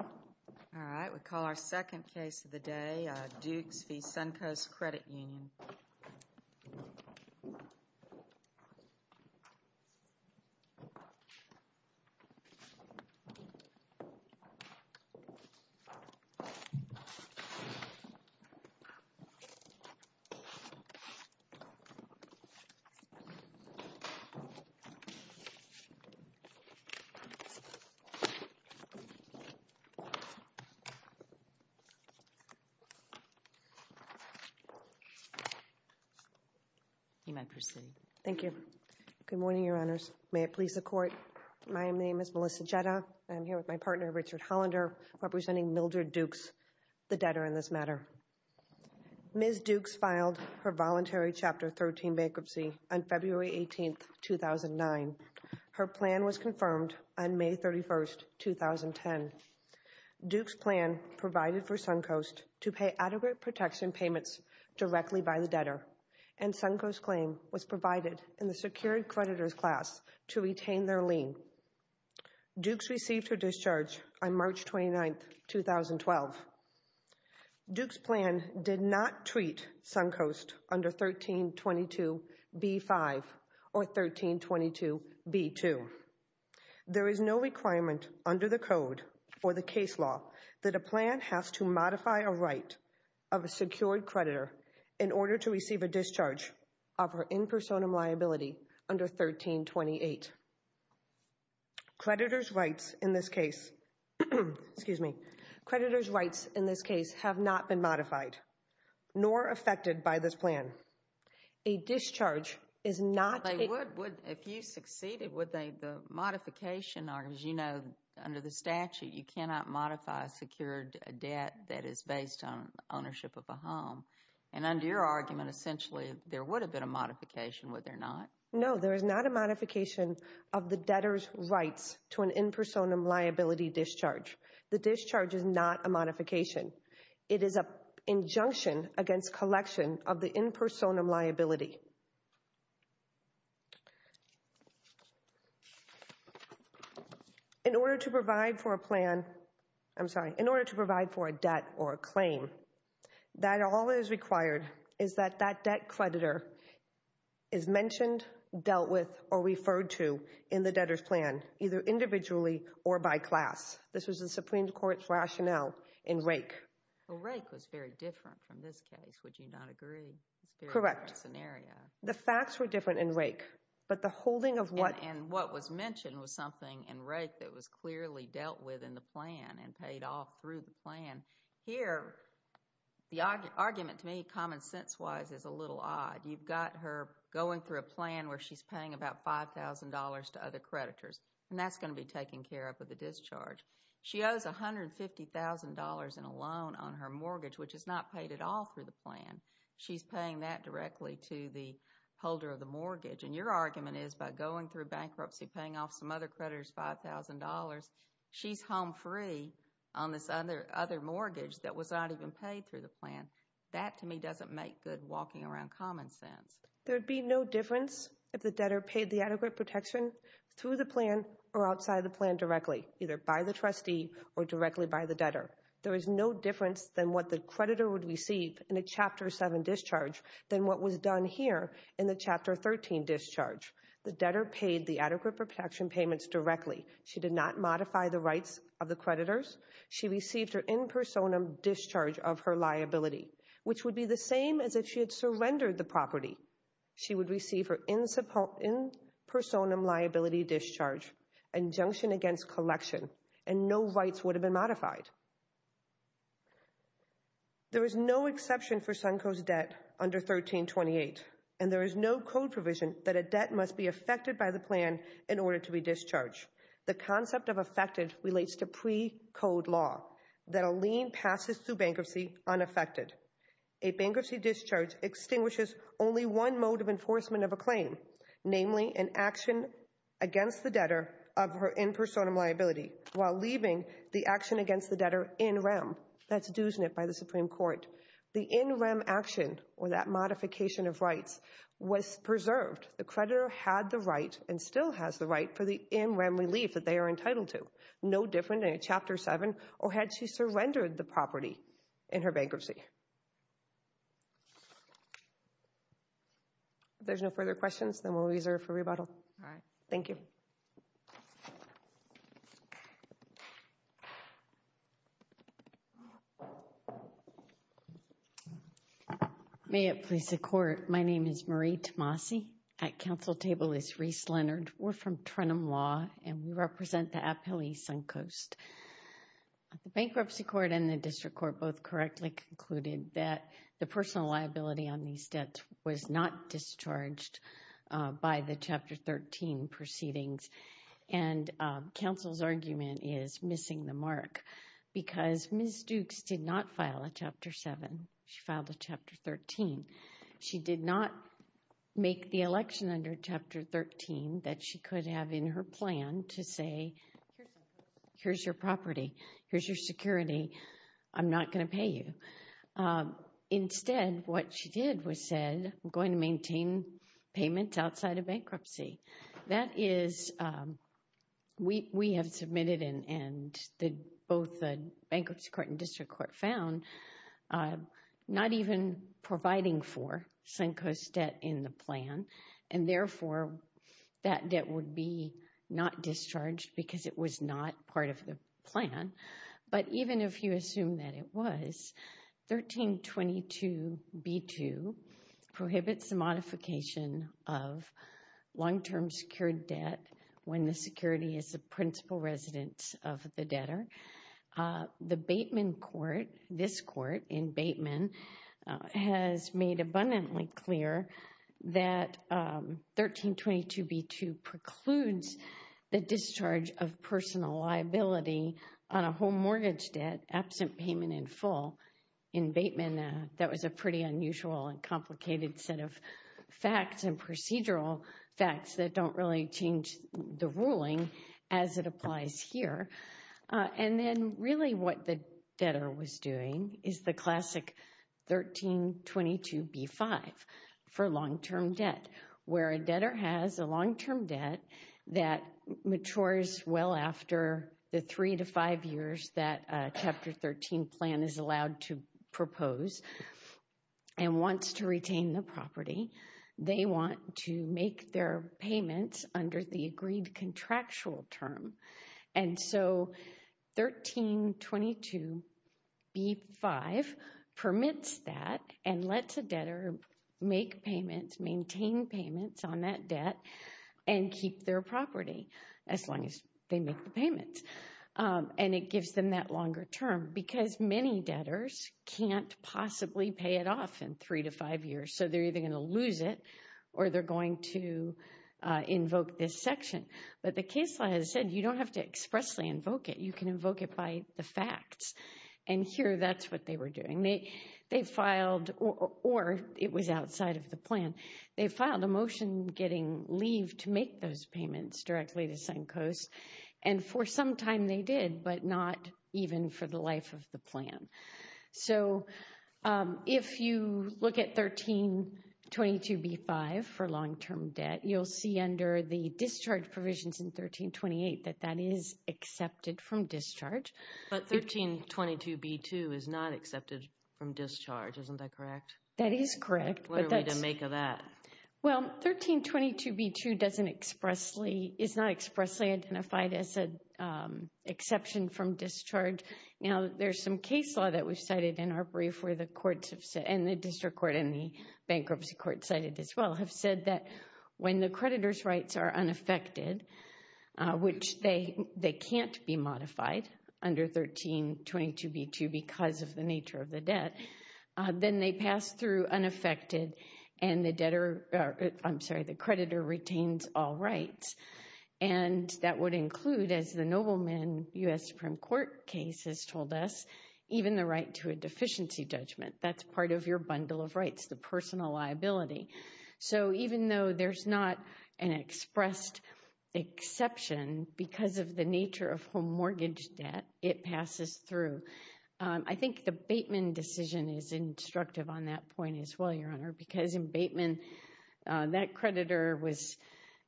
All right, we call our second case of the day, Dukes v. Suncoast Credit Union. You may proceed. Thank you. Good morning, Your Honors. May it please the Court, my name is Melissa Jetta. I'm here with my partner, Richard Hollander, representing Mildred Dukes, the debtor in this matter. Ms. Dukes filed her voluntary Chapter 13 bankruptcy on February 18, 2009. Her plan was confirmed on May 31, 2010. Dukes' plan provided for Suncoast to pay adequate protection payments directly by the debtor, and Suncoast's claim was provided in the secured creditor's class to retain their lien. Dukes received her discharge on March 29, 2012. Dukes' plan did not treat Suncoast under 1322b-5 or 1322b-2. There is no requirement under the Code for the case law that a plan has to modify a right of a secured creditor in order to receive a discharge of her in personam liability under 1328. Creditor's rights in this case have not been modified, nor affected by this plan. A discharge is not... If you succeeded, would the modification, as you know, under the statute, you cannot modify a secured debt that is based on ownership of a home. And under your argument, essentially, there would have been a modification, would there not? No, there is not a modification of the debtor's rights to an in personam liability discharge. The discharge is not a modification. It is an injunction against collection of the in personam liability. In order to provide for a plan... I'm sorry. In order to provide for a debt or a claim, that all is required is that that debt creditor is mentioned, dealt with, or referred to in the debtor's plan, either individually or by class. This was the Supreme Court's rationale in Rake. Well, Rake was very different from this case, would you not agree? Correct. It's a very different scenario. The facts were different in Rake, but the holding of what... And what was mentioned was something in Rake that was clearly dealt with in the plan and paid off through the plan. Here, the argument to me, common sense wise, is a little odd. You've got her going through a plan where she's paying about $5,000 to other creditors, and that's going to be taken care of with the discharge. She owes $150,000 in a loan on her mortgage, which is not paid at all through the plan. She's paying that directly to the holder of the mortgage. And your argument is by going through bankruptcy, paying off some other creditors $5,000, she's home free on this other mortgage that was not even paid through the plan. That, to me, doesn't make good walking around common sense. There would be no difference if the debtor paid the adequate protection through the plan or outside the plan directly, either by the trustee or directly by the debtor. There is no difference than what the creditor would receive in a Chapter 7 discharge than what was done here in the Chapter 13 discharge. The debtor paid the adequate protection payments directly. She did not modify the rights of the creditors. She received her in personam discharge of her liability, which would be the same as if she had surrendered the property. She would receive her in personam liability discharge, injunction against collection, and no rights would have been modified. There is no exception for Sunco's debt under 1328, and there is no code provision that a debt must be affected by the plan in order to be discharged. The concept of affected relates to pre-code law that a lien passes through bankruptcy unaffected. A bankruptcy discharge extinguishes only one mode of enforcement of a claim, namely an action against the debtor of her in personam liability, while leaving the action against the debtor in rem. That's DUSNIT by the Supreme Court. The in rem action, or that modification of rights, was preserved. The creditor had the right, and still has the right, for the in rem relief that they are entitled to. No different in Chapter 7, or had she surrendered the property in her bankruptcy. If there's no further questions, then we'll reserve for rebuttal. Alright. Thank you. May it please the Court. My name is Marie Tomasi. At Council table is Reese Leonard. We're from Trenum Law, and we represent the appellee, Suncoast. The Bankruptcy Court and the District Court both correctly concluded that the personal liability on these debts was not discharged by the Chapter 13 proceedings, and Council's argument is missing the mark, because Ms. Dukes did not file a Chapter 7. She filed a Chapter 13. She did not make the election under Chapter 13 that she could have in her plan to say, here's your property, here's your security, I'm not going to pay you. Instead, what she did was said, I'm going to maintain payment outside of bankruptcy. That is, we have submitted and both the Bankruptcy Court and District Court found, not even providing for Suncoast's debt in the plan, and therefore that debt would be not discharged because it was not part of the plan. But even if you assume that it was, 1322b2 prohibits the modification of long-term secured debt when the security is the principal residence of the debtor. The Bateman Court, this Court in Bateman, has made abundantly clear that 1322b2 precludes the discharge of personal liability on a home mortgage debt absent payment in full. In Bateman, that was a pretty unusual and complicated set of facts and procedural facts that don't really change the ruling as it applies here. And then really what the debtor was doing is the classic 1322b5 for long-term debt, where a debtor has a long-term debt that matures well after the three to five years that Chapter 13 plan is allowed to propose and wants to retain the property. They want to make their payments under the agreed contractual term. And so 1322b5 permits that and lets a debtor make payments, maintain payments on that debt, and keep their property as long as they make the payments. And it gives them that longer term because many debtors can't possibly pay it off in three to five years. So they're either going to lose it or they're going to invoke this section. But the case law has said you don't have to expressly invoke it. You can invoke it by the facts. And here that's what they were doing. They filed, or it was outside of the plan. They filed a motion getting leave to make those payments directly to Suncoast. And for some time they did, but not even for the life of the plan. So if you look at 1322b5 for long-term debt, you'll see under the discharge provisions in 1328 that that is accepted from discharge. But 1322b2 is not accepted from discharge. Isn't that correct? That is correct. What are we to make of that? Well, 1322b2 is not expressly identified as an exception from discharge. Now, there's some case law that we've cited in our brief where the courts have said, and the district court and the bankruptcy court cited as well, have said that when the creditor's rights are unaffected, which they can't be modified under 1322b2 because of the nature of the debt, then they pass through unaffected and the creditor retains all rights. And that would include, as the nobleman U.S. Supreme Court case has told us, even the right to a deficiency judgment. That's part of your bundle of rights, the personal liability. So even though there's not an expressed exception because of the nature of home mortgage debt, it passes through. I think the Bateman decision is instructive on that point as well, Your Honor, because in Bateman that creditor was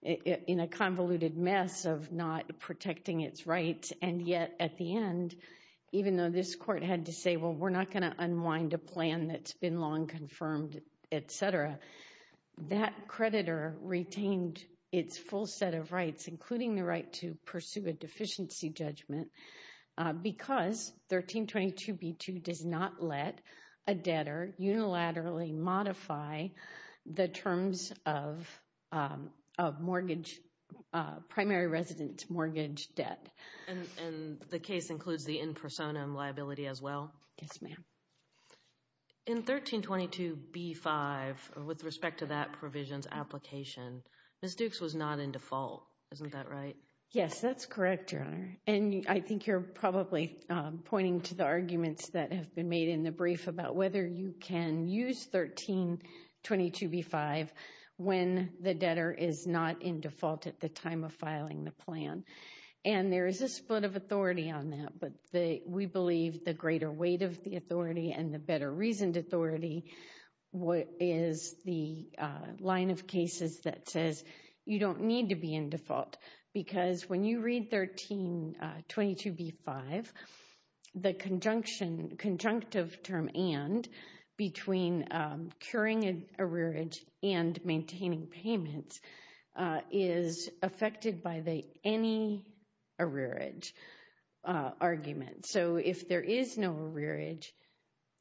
in a convoluted mess of not protecting its rights, and yet at the end, even though this court had to say, well, we're not going to unwind a plan that's been long confirmed, et cetera, that creditor retained its full set of rights, including the right to pursue a deficiency judgment, because 1322b2 does not let a debtor unilaterally modify the terms of mortgage, primary residence mortgage debt. And the case includes the in personam liability as well? Yes, ma'am. In 1322b5, with respect to that provision's application, Ms. Dukes was not in default. Isn't that right? Yes, that's correct, Your Honor. And I think you're probably pointing to the arguments that have been made in the brief about whether you can use 1322b5 when the debtor is not in default at the time of filing the plan. And there is a split of authority on that, but we believe the greater weight of the authority and the better reasoned authority is the line of cases that says you don't need to be in default, because when you read 1322b5, the conjunctive term and between curing an arrearage and maintaining payments is affected by the any arrearage argument. So if there is no arrearage,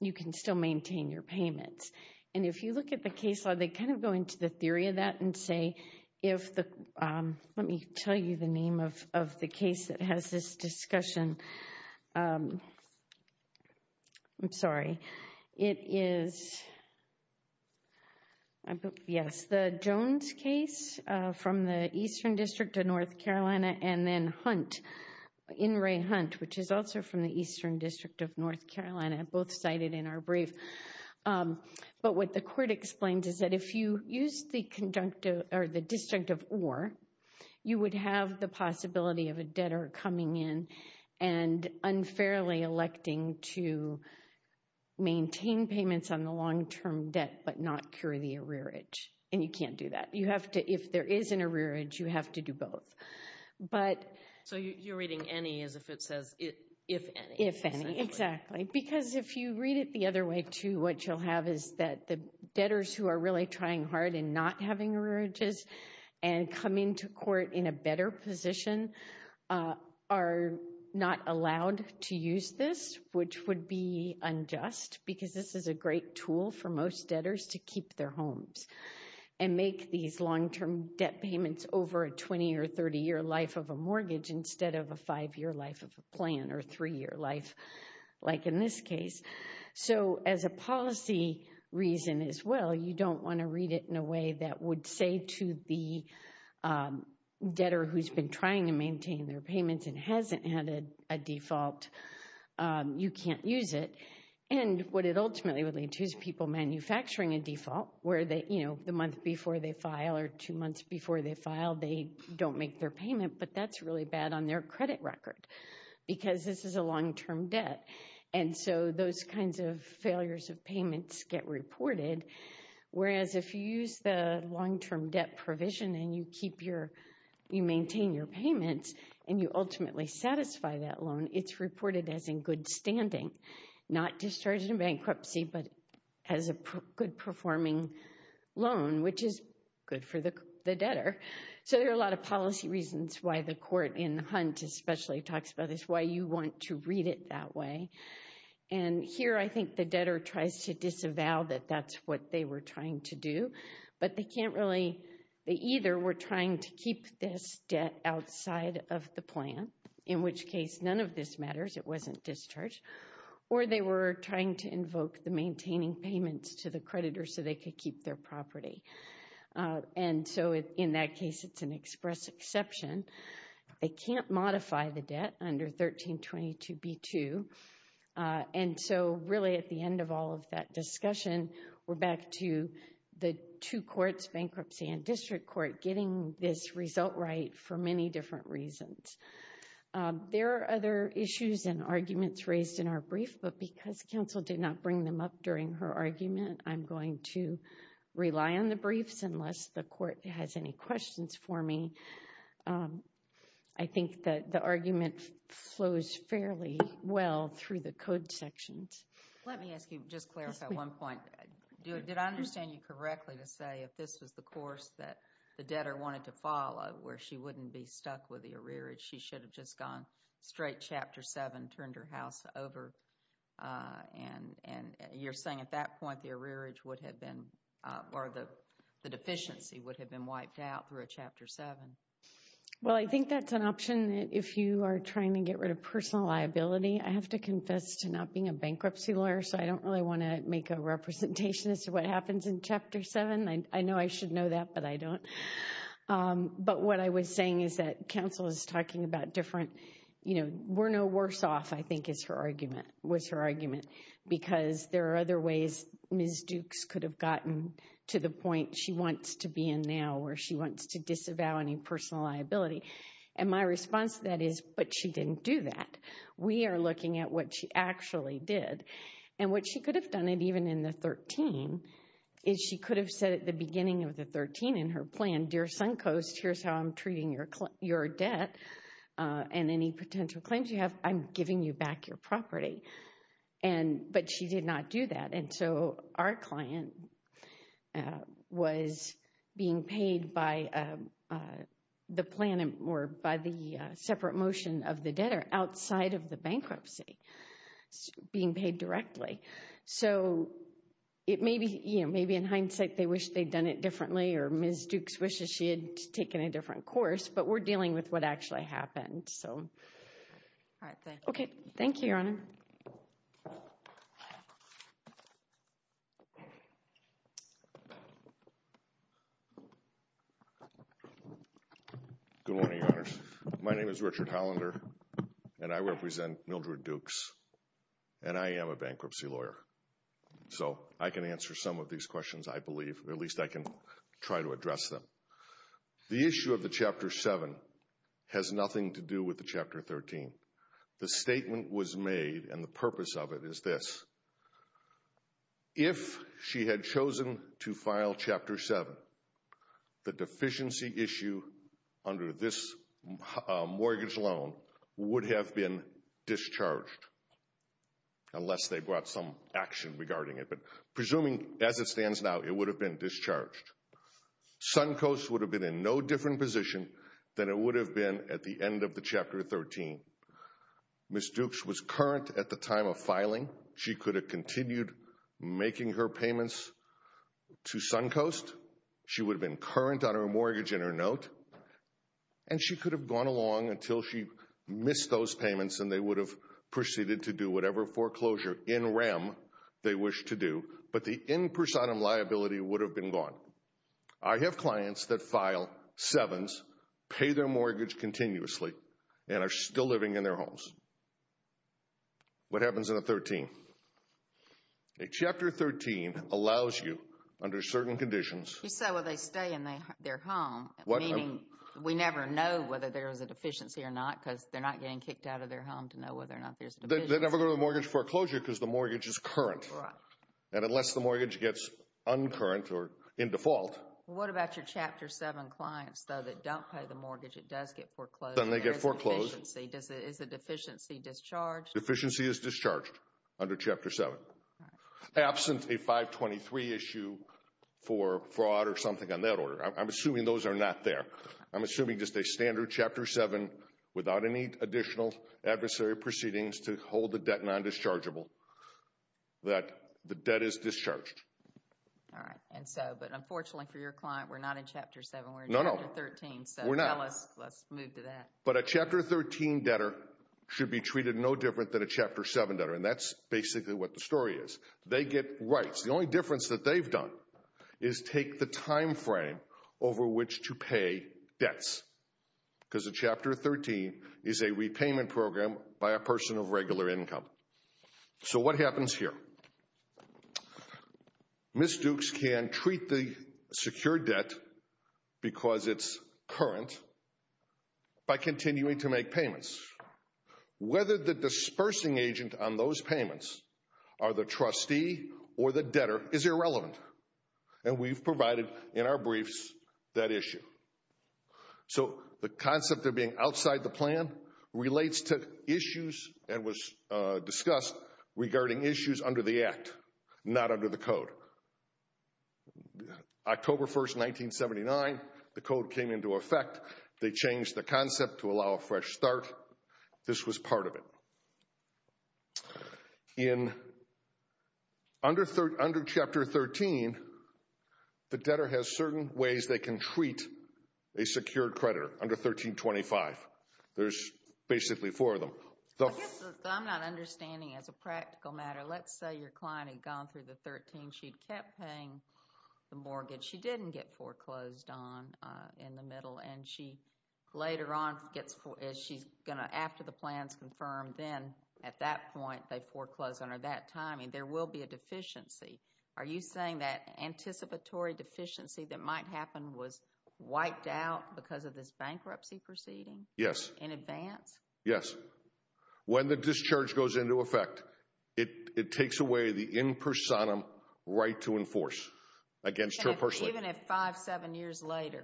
you can still maintain your payments. And if you look at the case law, they kind of go into the theory of that and say, if the, let me tell you the name of the case that has this discussion. I'm sorry. It is, yes, the Jones case from the Eastern District of North Carolina, and then Hunt, In Re Hunt, which is also from the Eastern District of North Carolina, both cited in our brief. But what the court explains is that if you use the conjunctive or the disjunctive or, you would have the possibility of a debtor coming in and unfairly electing to maintain payments on the long-term debt but not cure the arrearage, and you can't do that. You have to, if there is an arrearage, you have to do both. So you're reading any as if it says if any. If any, exactly. Because if you read it the other way, too, what you'll have is that the debtors who are really trying hard in not having arrearages and come into court in a better position are not allowed to use this, which would be unjust because this is a great tool for most debtors to keep their homes and make these long-term debt payments over a 20- or 30-year life of a mortgage instead of a five-year life of a plan or a three-year life like in this case. So as a policy reason as well, you don't want to read it in a way that would say to the debtor who's been trying to maintain their payments and hasn't had a default, you can't use it. And what it ultimately would lead to is people manufacturing a default where, you know, the month before they file or two months before they file, they don't make their payment, but that's really bad on their credit record because this is a long-term debt. And so those kinds of failures of payments get reported, whereas if you use the long-term debt provision and you maintain your payments and you ultimately satisfy that loan, it's reported as in good standing, not discharged in bankruptcy but as a good-performing loan, which is good for the debtor. So there are a lot of policy reasons why the court in Hunt especially talks about this, why you want to read it that way. And here I think the debtor tries to disavow that that's what they were trying to do, but they can't really – they either were trying to keep this debt outside of the plan, in which case none of this matters, it wasn't discharged, or they were trying to invoke the maintaining payments to the creditor so they could keep their property. And so in that case it's an express exception. They can't modify the debt under 1322b-2. And so really at the end of all of that discussion, we're back to the two courts, bankruptcy and district court, getting this result right for many different reasons. There are other issues and arguments raised in our brief, but because counsel did not bring them up during her argument, I'm going to rely on the briefs unless the court has any questions for me. I think that the argument flows fairly well through the code sections. Let me ask you, just clarify one point. Did I understand you correctly to say if this was the course that the debtor wanted to follow, where she wouldn't be stuck with the arrearage, she should have just gone straight Chapter 7, turned her house over, and you're saying at that point the arrearage would have been, or the deficiency would have been wiped out through a Chapter 7? Well, I think that's an option if you are trying to get rid of personal liability. I have to confess to not being a bankruptcy lawyer, so I don't really want to make a representation as to what happens in Chapter 7. I know I should know that, but I don't. But what I was saying is that counsel is talking about different, you know, we're no worse off, I think, was her argument, because there are other ways Ms. Dukes could have gotten to the point she wants to be in now where she wants to disavow any personal liability. And my response to that is, but she didn't do that. We are looking at what she actually did. And what she could have done, and even in the 13, is she could have said at the beginning of the 13 in her plan, Dear Suncoast, here's how I'm treating your debt and any potential claims you have. I'm giving you back your property. But she did not do that, and so our client was being paid by the plan or by the separate motion of the debtor outside of the bankruptcy, being paid directly. So it may be, you know, maybe in hindsight they wish they'd done it differently or Ms. Dukes wishes she had taken a different course, but we're dealing with what actually happened, so. All right. Thank you. Okay. Thank you, Your Honor. Good morning, Your Honors. My name is Richard Hollander, and I represent Mildred Dukes, and I am a bankruptcy lawyer. So I can answer some of these questions, I believe, or at least I can try to address them. The issue of the Chapter 7 has nothing to do with the Chapter 13. The statement was made, and the purpose of it is this. If she had chosen to file Chapter 7, the deficiency issue under this mortgage loan would have been discharged, unless they brought some action regarding it. But presuming as it stands now, it would have been discharged. Suncoast would have been in no different position than it would have been at the end of the Chapter 13. Ms. Dukes was current at the time of filing. She could have continued making her payments to Suncoast. She would have been current on her mortgage and her note, and she could have gone along until she missed those payments, and they would have proceeded to do whatever foreclosure in rem they wished to do. But the in personam liability would have been gone. I have clients that file 7s, pay their mortgage continuously, and are still living in their homes. What happens in a 13? A Chapter 13 allows you, under certain conditions. You say, well, they stay in their home, meaning we never know whether there is a deficiency or not, because they're not getting kicked out of their home to know whether or not there's a deficiency. They never go to the mortgage foreclosure because the mortgage is current. Right. And unless the mortgage gets uncurrent or in default. What about your Chapter 7 clients, though, that don't pay the mortgage, it does get foreclosed. Then they get foreclosed. Is the deficiency discharged? Deficiency is discharged under Chapter 7. Absent a 523 issue for fraud or something on that order. I'm assuming those are not there. I'm assuming just a standard Chapter 7 without any additional adversary proceedings to hold the debt non-dischargeable, that the debt is discharged. All right. But unfortunately for your client, we're not in Chapter 7. We're in Chapter 13. So tell us, let's move to that. But a Chapter 13 debtor should be treated no different than a Chapter 7 debtor, and that's basically what the story is. They get rights. The only difference that they've done is take the time frame over which to pay debts, because a Chapter 13 is a repayment program by a person of regular income. So what happens here? Ms. Dukes can treat the secured debt because it's current by continuing to make payments. Whether the dispersing agent on those payments are the trustee or the debtor is irrelevant, and we've provided in our briefs that issue. So the concept of being outside the plan relates to issues and was discussed regarding issues under the Act, not under the Code. October 1, 1979, the Code came into effect. They changed the concept to allow a fresh start. This was part of it. In under Chapter 13, the debtor has certain ways they can treat a secured creditor under 1325. There's basically four of them. I'm not understanding as a practical matter. Let's say your client had gone through the 13. She'd kept paying the mortgage. She didn't get foreclosed on in the middle, and she later on, after the plan's confirmed, then at that point they foreclose under that timing. There will be a deficiency. Are you saying that anticipatory deficiency that might happen was wiped out because of this bankruptcy proceeding in advance? Yes. When the discharge goes into effect, it takes away the in personam right to enforce against her personally. Even if five, seven years later?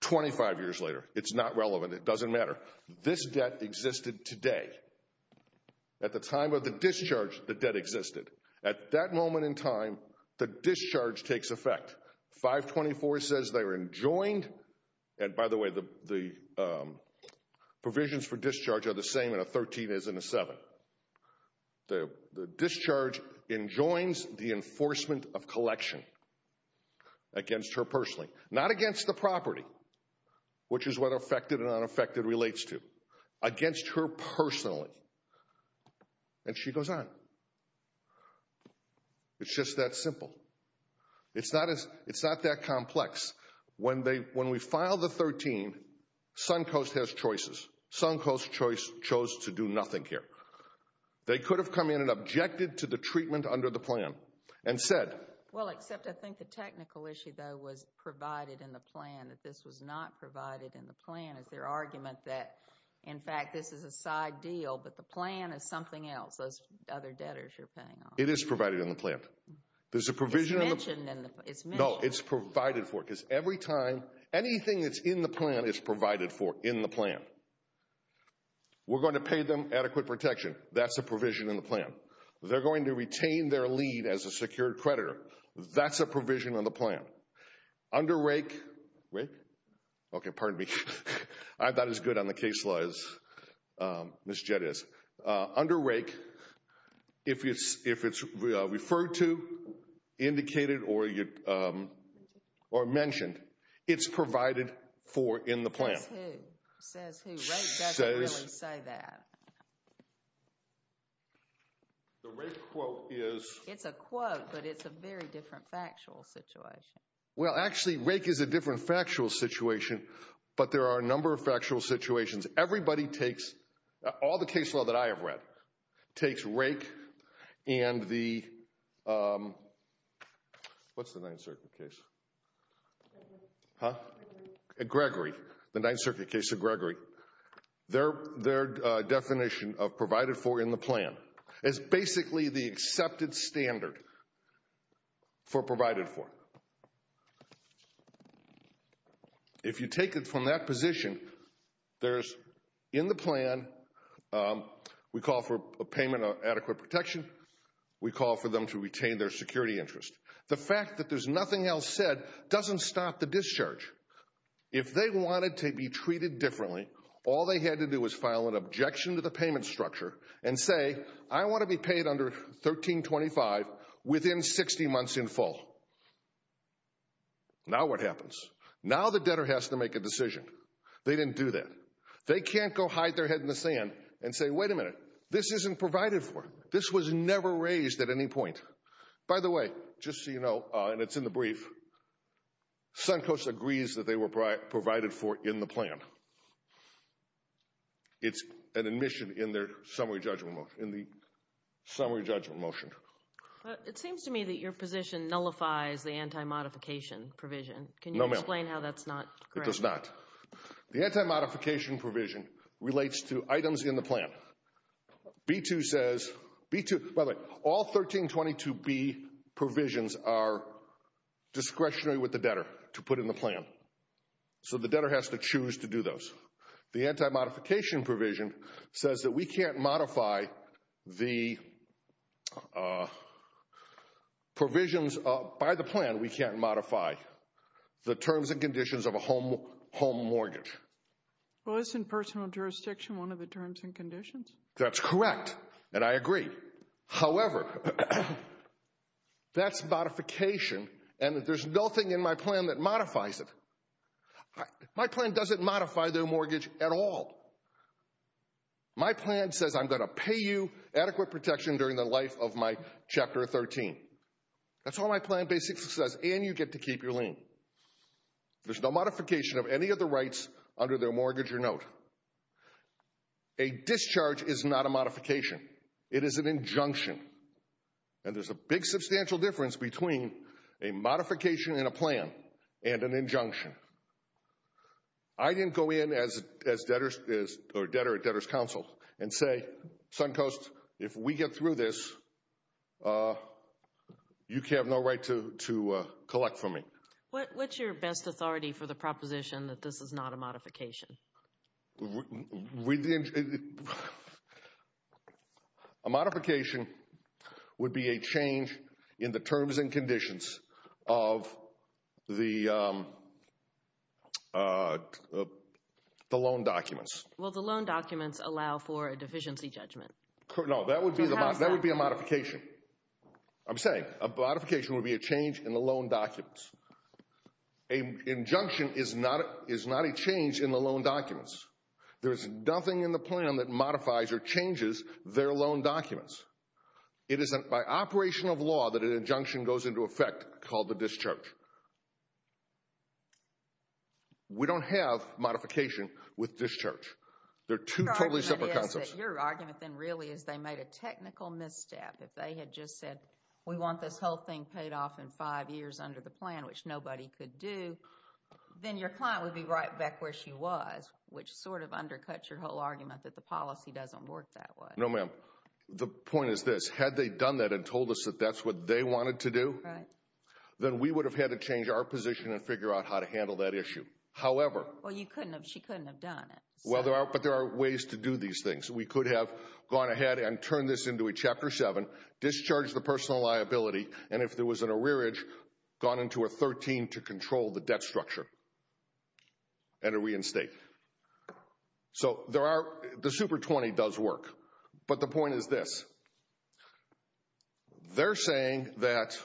Twenty-five years later. It's not relevant. It doesn't matter. This debt existed today. At the time of the discharge, the debt existed. At that moment in time, the discharge takes effect. 524 says they're enjoined. And by the way, the provisions for discharge are the same in a 13 as in a 7. The discharge enjoins the enforcement of collection against her personally. Not against the property, which is what affected and unaffected relates to. Against her personally. And she goes on. It's just that simple. It's not that complex. When we filed the 13, Suncoast has choices. Suncoast chose to do nothing here. They could have come in and objected to the treatment under the plan and said. Well, except I think the technical issue, though, was provided in the plan, that this was not provided in the plan. Is there argument that, in fact, this is a side deal, but the plan is something else, those other debtors you're pinning on? It is provided in the plan. There's a provision in the plan. It's mentioned in the plan. No, it's provided for. Because every time anything that's in the plan is provided for in the plan. We're going to pay them adequate protection. That's the provision in the plan. They're going to retain their lead as a secured creditor. That's a provision on the plan. Under RAIC. RAIC? Okay, pardon me. I'm not as good on the case law as Ms. Jett is. Under RAIC, if it's referred to, indicated, or mentioned, it's provided for in the plan. Says who? Says who? RAIC doesn't really say that. The RAIC quote is. It's a quote, but it's a very different factual situation. Well, actually, RAIC is a different factual situation, but there are a number of factual situations. Everybody takes, all the case law that I have read, takes RAIC and the, what's the Ninth Circuit case? Huh? Gregory. The Ninth Circuit case of Gregory. Their definition of provided for in the plan is basically the accepted standard for provided for. If you take it from that position, there's, in the plan, we call for a payment of adequate protection. We call for them to retain their security interest. The fact that there's nothing else said doesn't stop the discharge. If they wanted to be treated differently, all they had to do was file an objection to the payment structure and say, I want to be paid under 1325 within 60 months in full. Now what happens? Now the debtor has to make a decision. They didn't do that. They can't go hide their head in the sand and say, wait a minute, this isn't provided for. This was never raised at any point. By the way, just so you know, and it's in the brief, Suncoast agrees that they were provided for in the plan. It's an admission in their summary judgment motion. It seems to me that your position nullifies the anti-modification provision. Can you explain how that's not correct? It does not. The anti-modification provision relates to items in the plan. B-2 says, B-2, by the way, all 1322B provisions are discretionary with the debtor to put in the plan. So the debtor has to choose to do those. The anti-modification provision says that we can't modify the provisions by the plan. We can't modify the terms and conditions of a home mortgage. Well, it's in personal jurisdiction, one of the terms and conditions. That's correct, and I agree. However, that's modification, and there's nothing in my plan that modifies it. My plan doesn't modify their mortgage at all. My plan says I'm going to pay you adequate protection during the life of my Chapter 13. That's all my plan basically says, and you get to keep your lien. There's no modification of any of the rights under their mortgage or note. A discharge is not a modification. It is an injunction, and there's a big substantial difference between a modification in a plan and an injunction. I didn't go in as debtor at Debtor's Counsel and say, Suncoast, if we get through this, you have no right to collect from me. What's your best authority for the proposition that this is not a modification? A modification would be a change in the terms and conditions of the loan documents. Will the loan documents allow for a deficiency judgment? No, that would be a modification. I'm saying a modification would be a change in the loan documents. An injunction is not a change in the loan documents. There's nothing in the plan that modifies or changes their loan documents. It is by operation of law that an injunction goes into effect called a discharge. We don't have modification with discharge. They're two totally separate concepts. Your argument then really is they made a technical misstep. If they had just said, we want this whole thing paid off in five years under the plan, which nobody could do, then your client would be right back where she was, which sort of undercuts your whole argument that the policy doesn't work that way. No, ma'am. The point is this. Had they done that and told us that that's what they wanted to do, then we would have had to change our position and figure out how to handle that issue. However... Well, you couldn't have. She couldn't have done it. But there are ways to do these things. We could have gone ahead and turned this into a Chapter 7, discharged the personal liability, and if there was an arrearage, gone into a 13 to control the debt structure and a reinstate. So the Super 20 does work. But the point is this. They're saying that...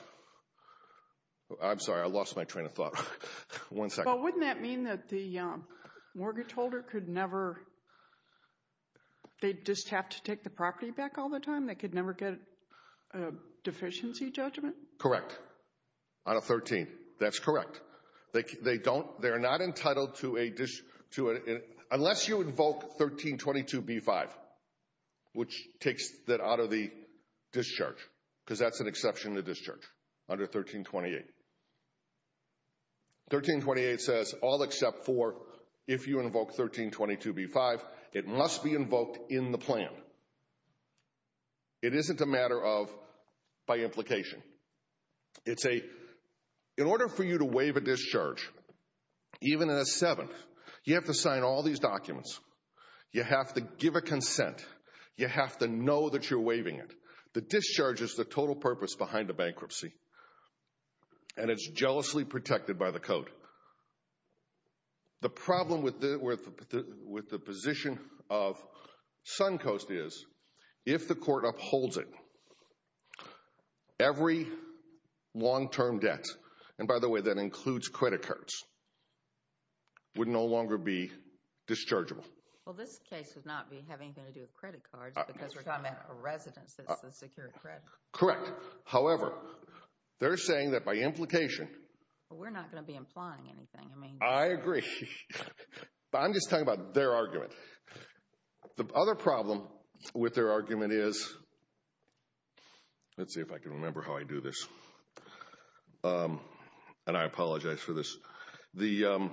I'm sorry. I lost my train of thought. One second. But wouldn't that mean that the mortgage holder could never... They'd just have to take the property back all the time? They could never get a deficiency judgment? Correct. On a 13. That's correct. They don't. They're not entitled to a... Unless you invoke 1322B5, which takes that out of the discharge, because that's an exception to discharge under 1328. 1328 says all except for if you invoke 1322B5, it must be invoked in the plan. It isn't a matter of by implication. It's a... In order for you to waive a discharge, even in a 7, you have to sign all these documents. You have to give a consent. You have to know that you're waiving it. The discharge is the total purpose behind a bankruptcy. And it's jealously protected by the code. The problem with the position of Suncoast is, if the court upholds it, every long-term debt, and by the way, that includes credit cards, would no longer be dischargeable. Well, this case would not be having anything to do with credit cards, because we're talking about a residence that's a secured credit. Correct. However, they're saying that by implication... We're not going to be implying anything. I agree. But I'm just talking about their argument. The other problem with their argument is... Let's see if I can remember how I do this. And I apologize for this. Can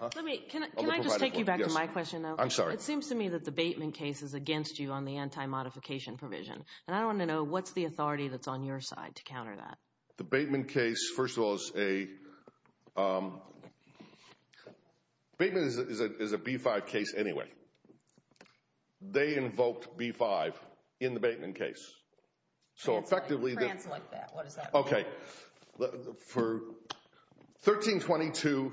I just take you back to my question, though? I'm sorry. It seems to me that the Bateman case is against you on the anti-modification provision. And I want to know, what's the authority that's on your side to counter that? The Bateman case, first of all, is a... Bateman is a B-5 case anyway. They invoked B-5 in the Bateman case. That's like France like that. What does that mean? Okay. For 1322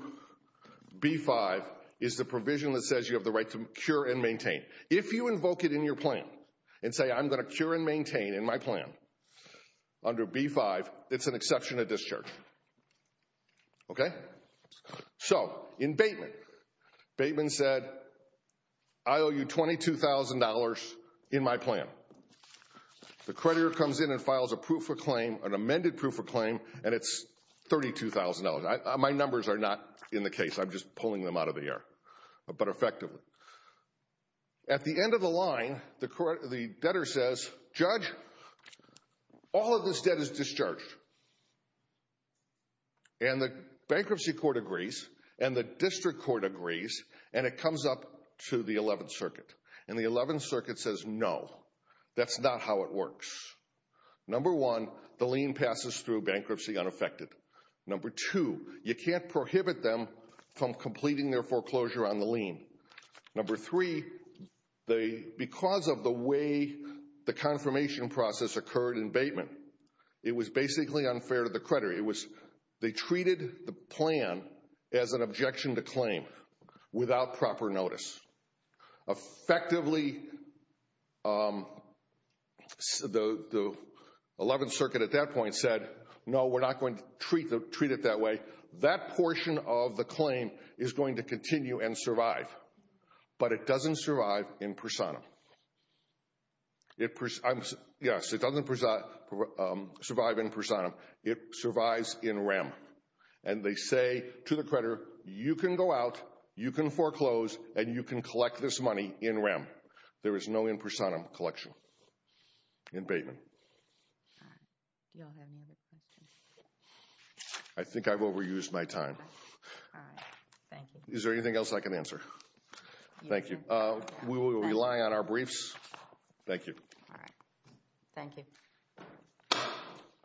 B-5 is the provision that says you have the right to cure and maintain. If you invoke it in your plan and say, I'm going to cure and maintain in my plan under B-5, it's an exception to discharge. Okay? So, in Bateman, Bateman said, I owe you $22,000 in my plan. The creditor comes in and files a proof of claim, an amended proof of claim, and it's $32,000. My numbers are not in the case. I'm just pulling them out of the air, but effectively. At the end of the line, the debtor says, Judge, all of this debt is discharged. And the bankruptcy court agrees. And the district court agrees. And it comes up to the 11th Circuit. And the 11th Circuit says, No. That's not how it works. Number one, the lien passes through bankruptcy unaffected. Number two, you can't prohibit them from completing their foreclosure on the lien. Number three, because of the way the confirmation process occurred in Bateman, it was basically unfair to the creditor. They treated the plan as an objection to claim without proper notice. Effectively, the 11th Circuit at that point said, No, we're not going to treat it that way. That portion of the claim is going to continue and survive. But it doesn't survive in personam. Yes, it doesn't survive in personam. It survives in rem. And they say to the creditor, You can go out, you can foreclose, and you can collect this money in rem. There is no in personam collection in Bateman. Do you all have any other questions? I think I've overused my time. All right. Thank you. Is there anything else I can answer? Thank you. We will rely on our briefs. Thank you. All right. Thank you.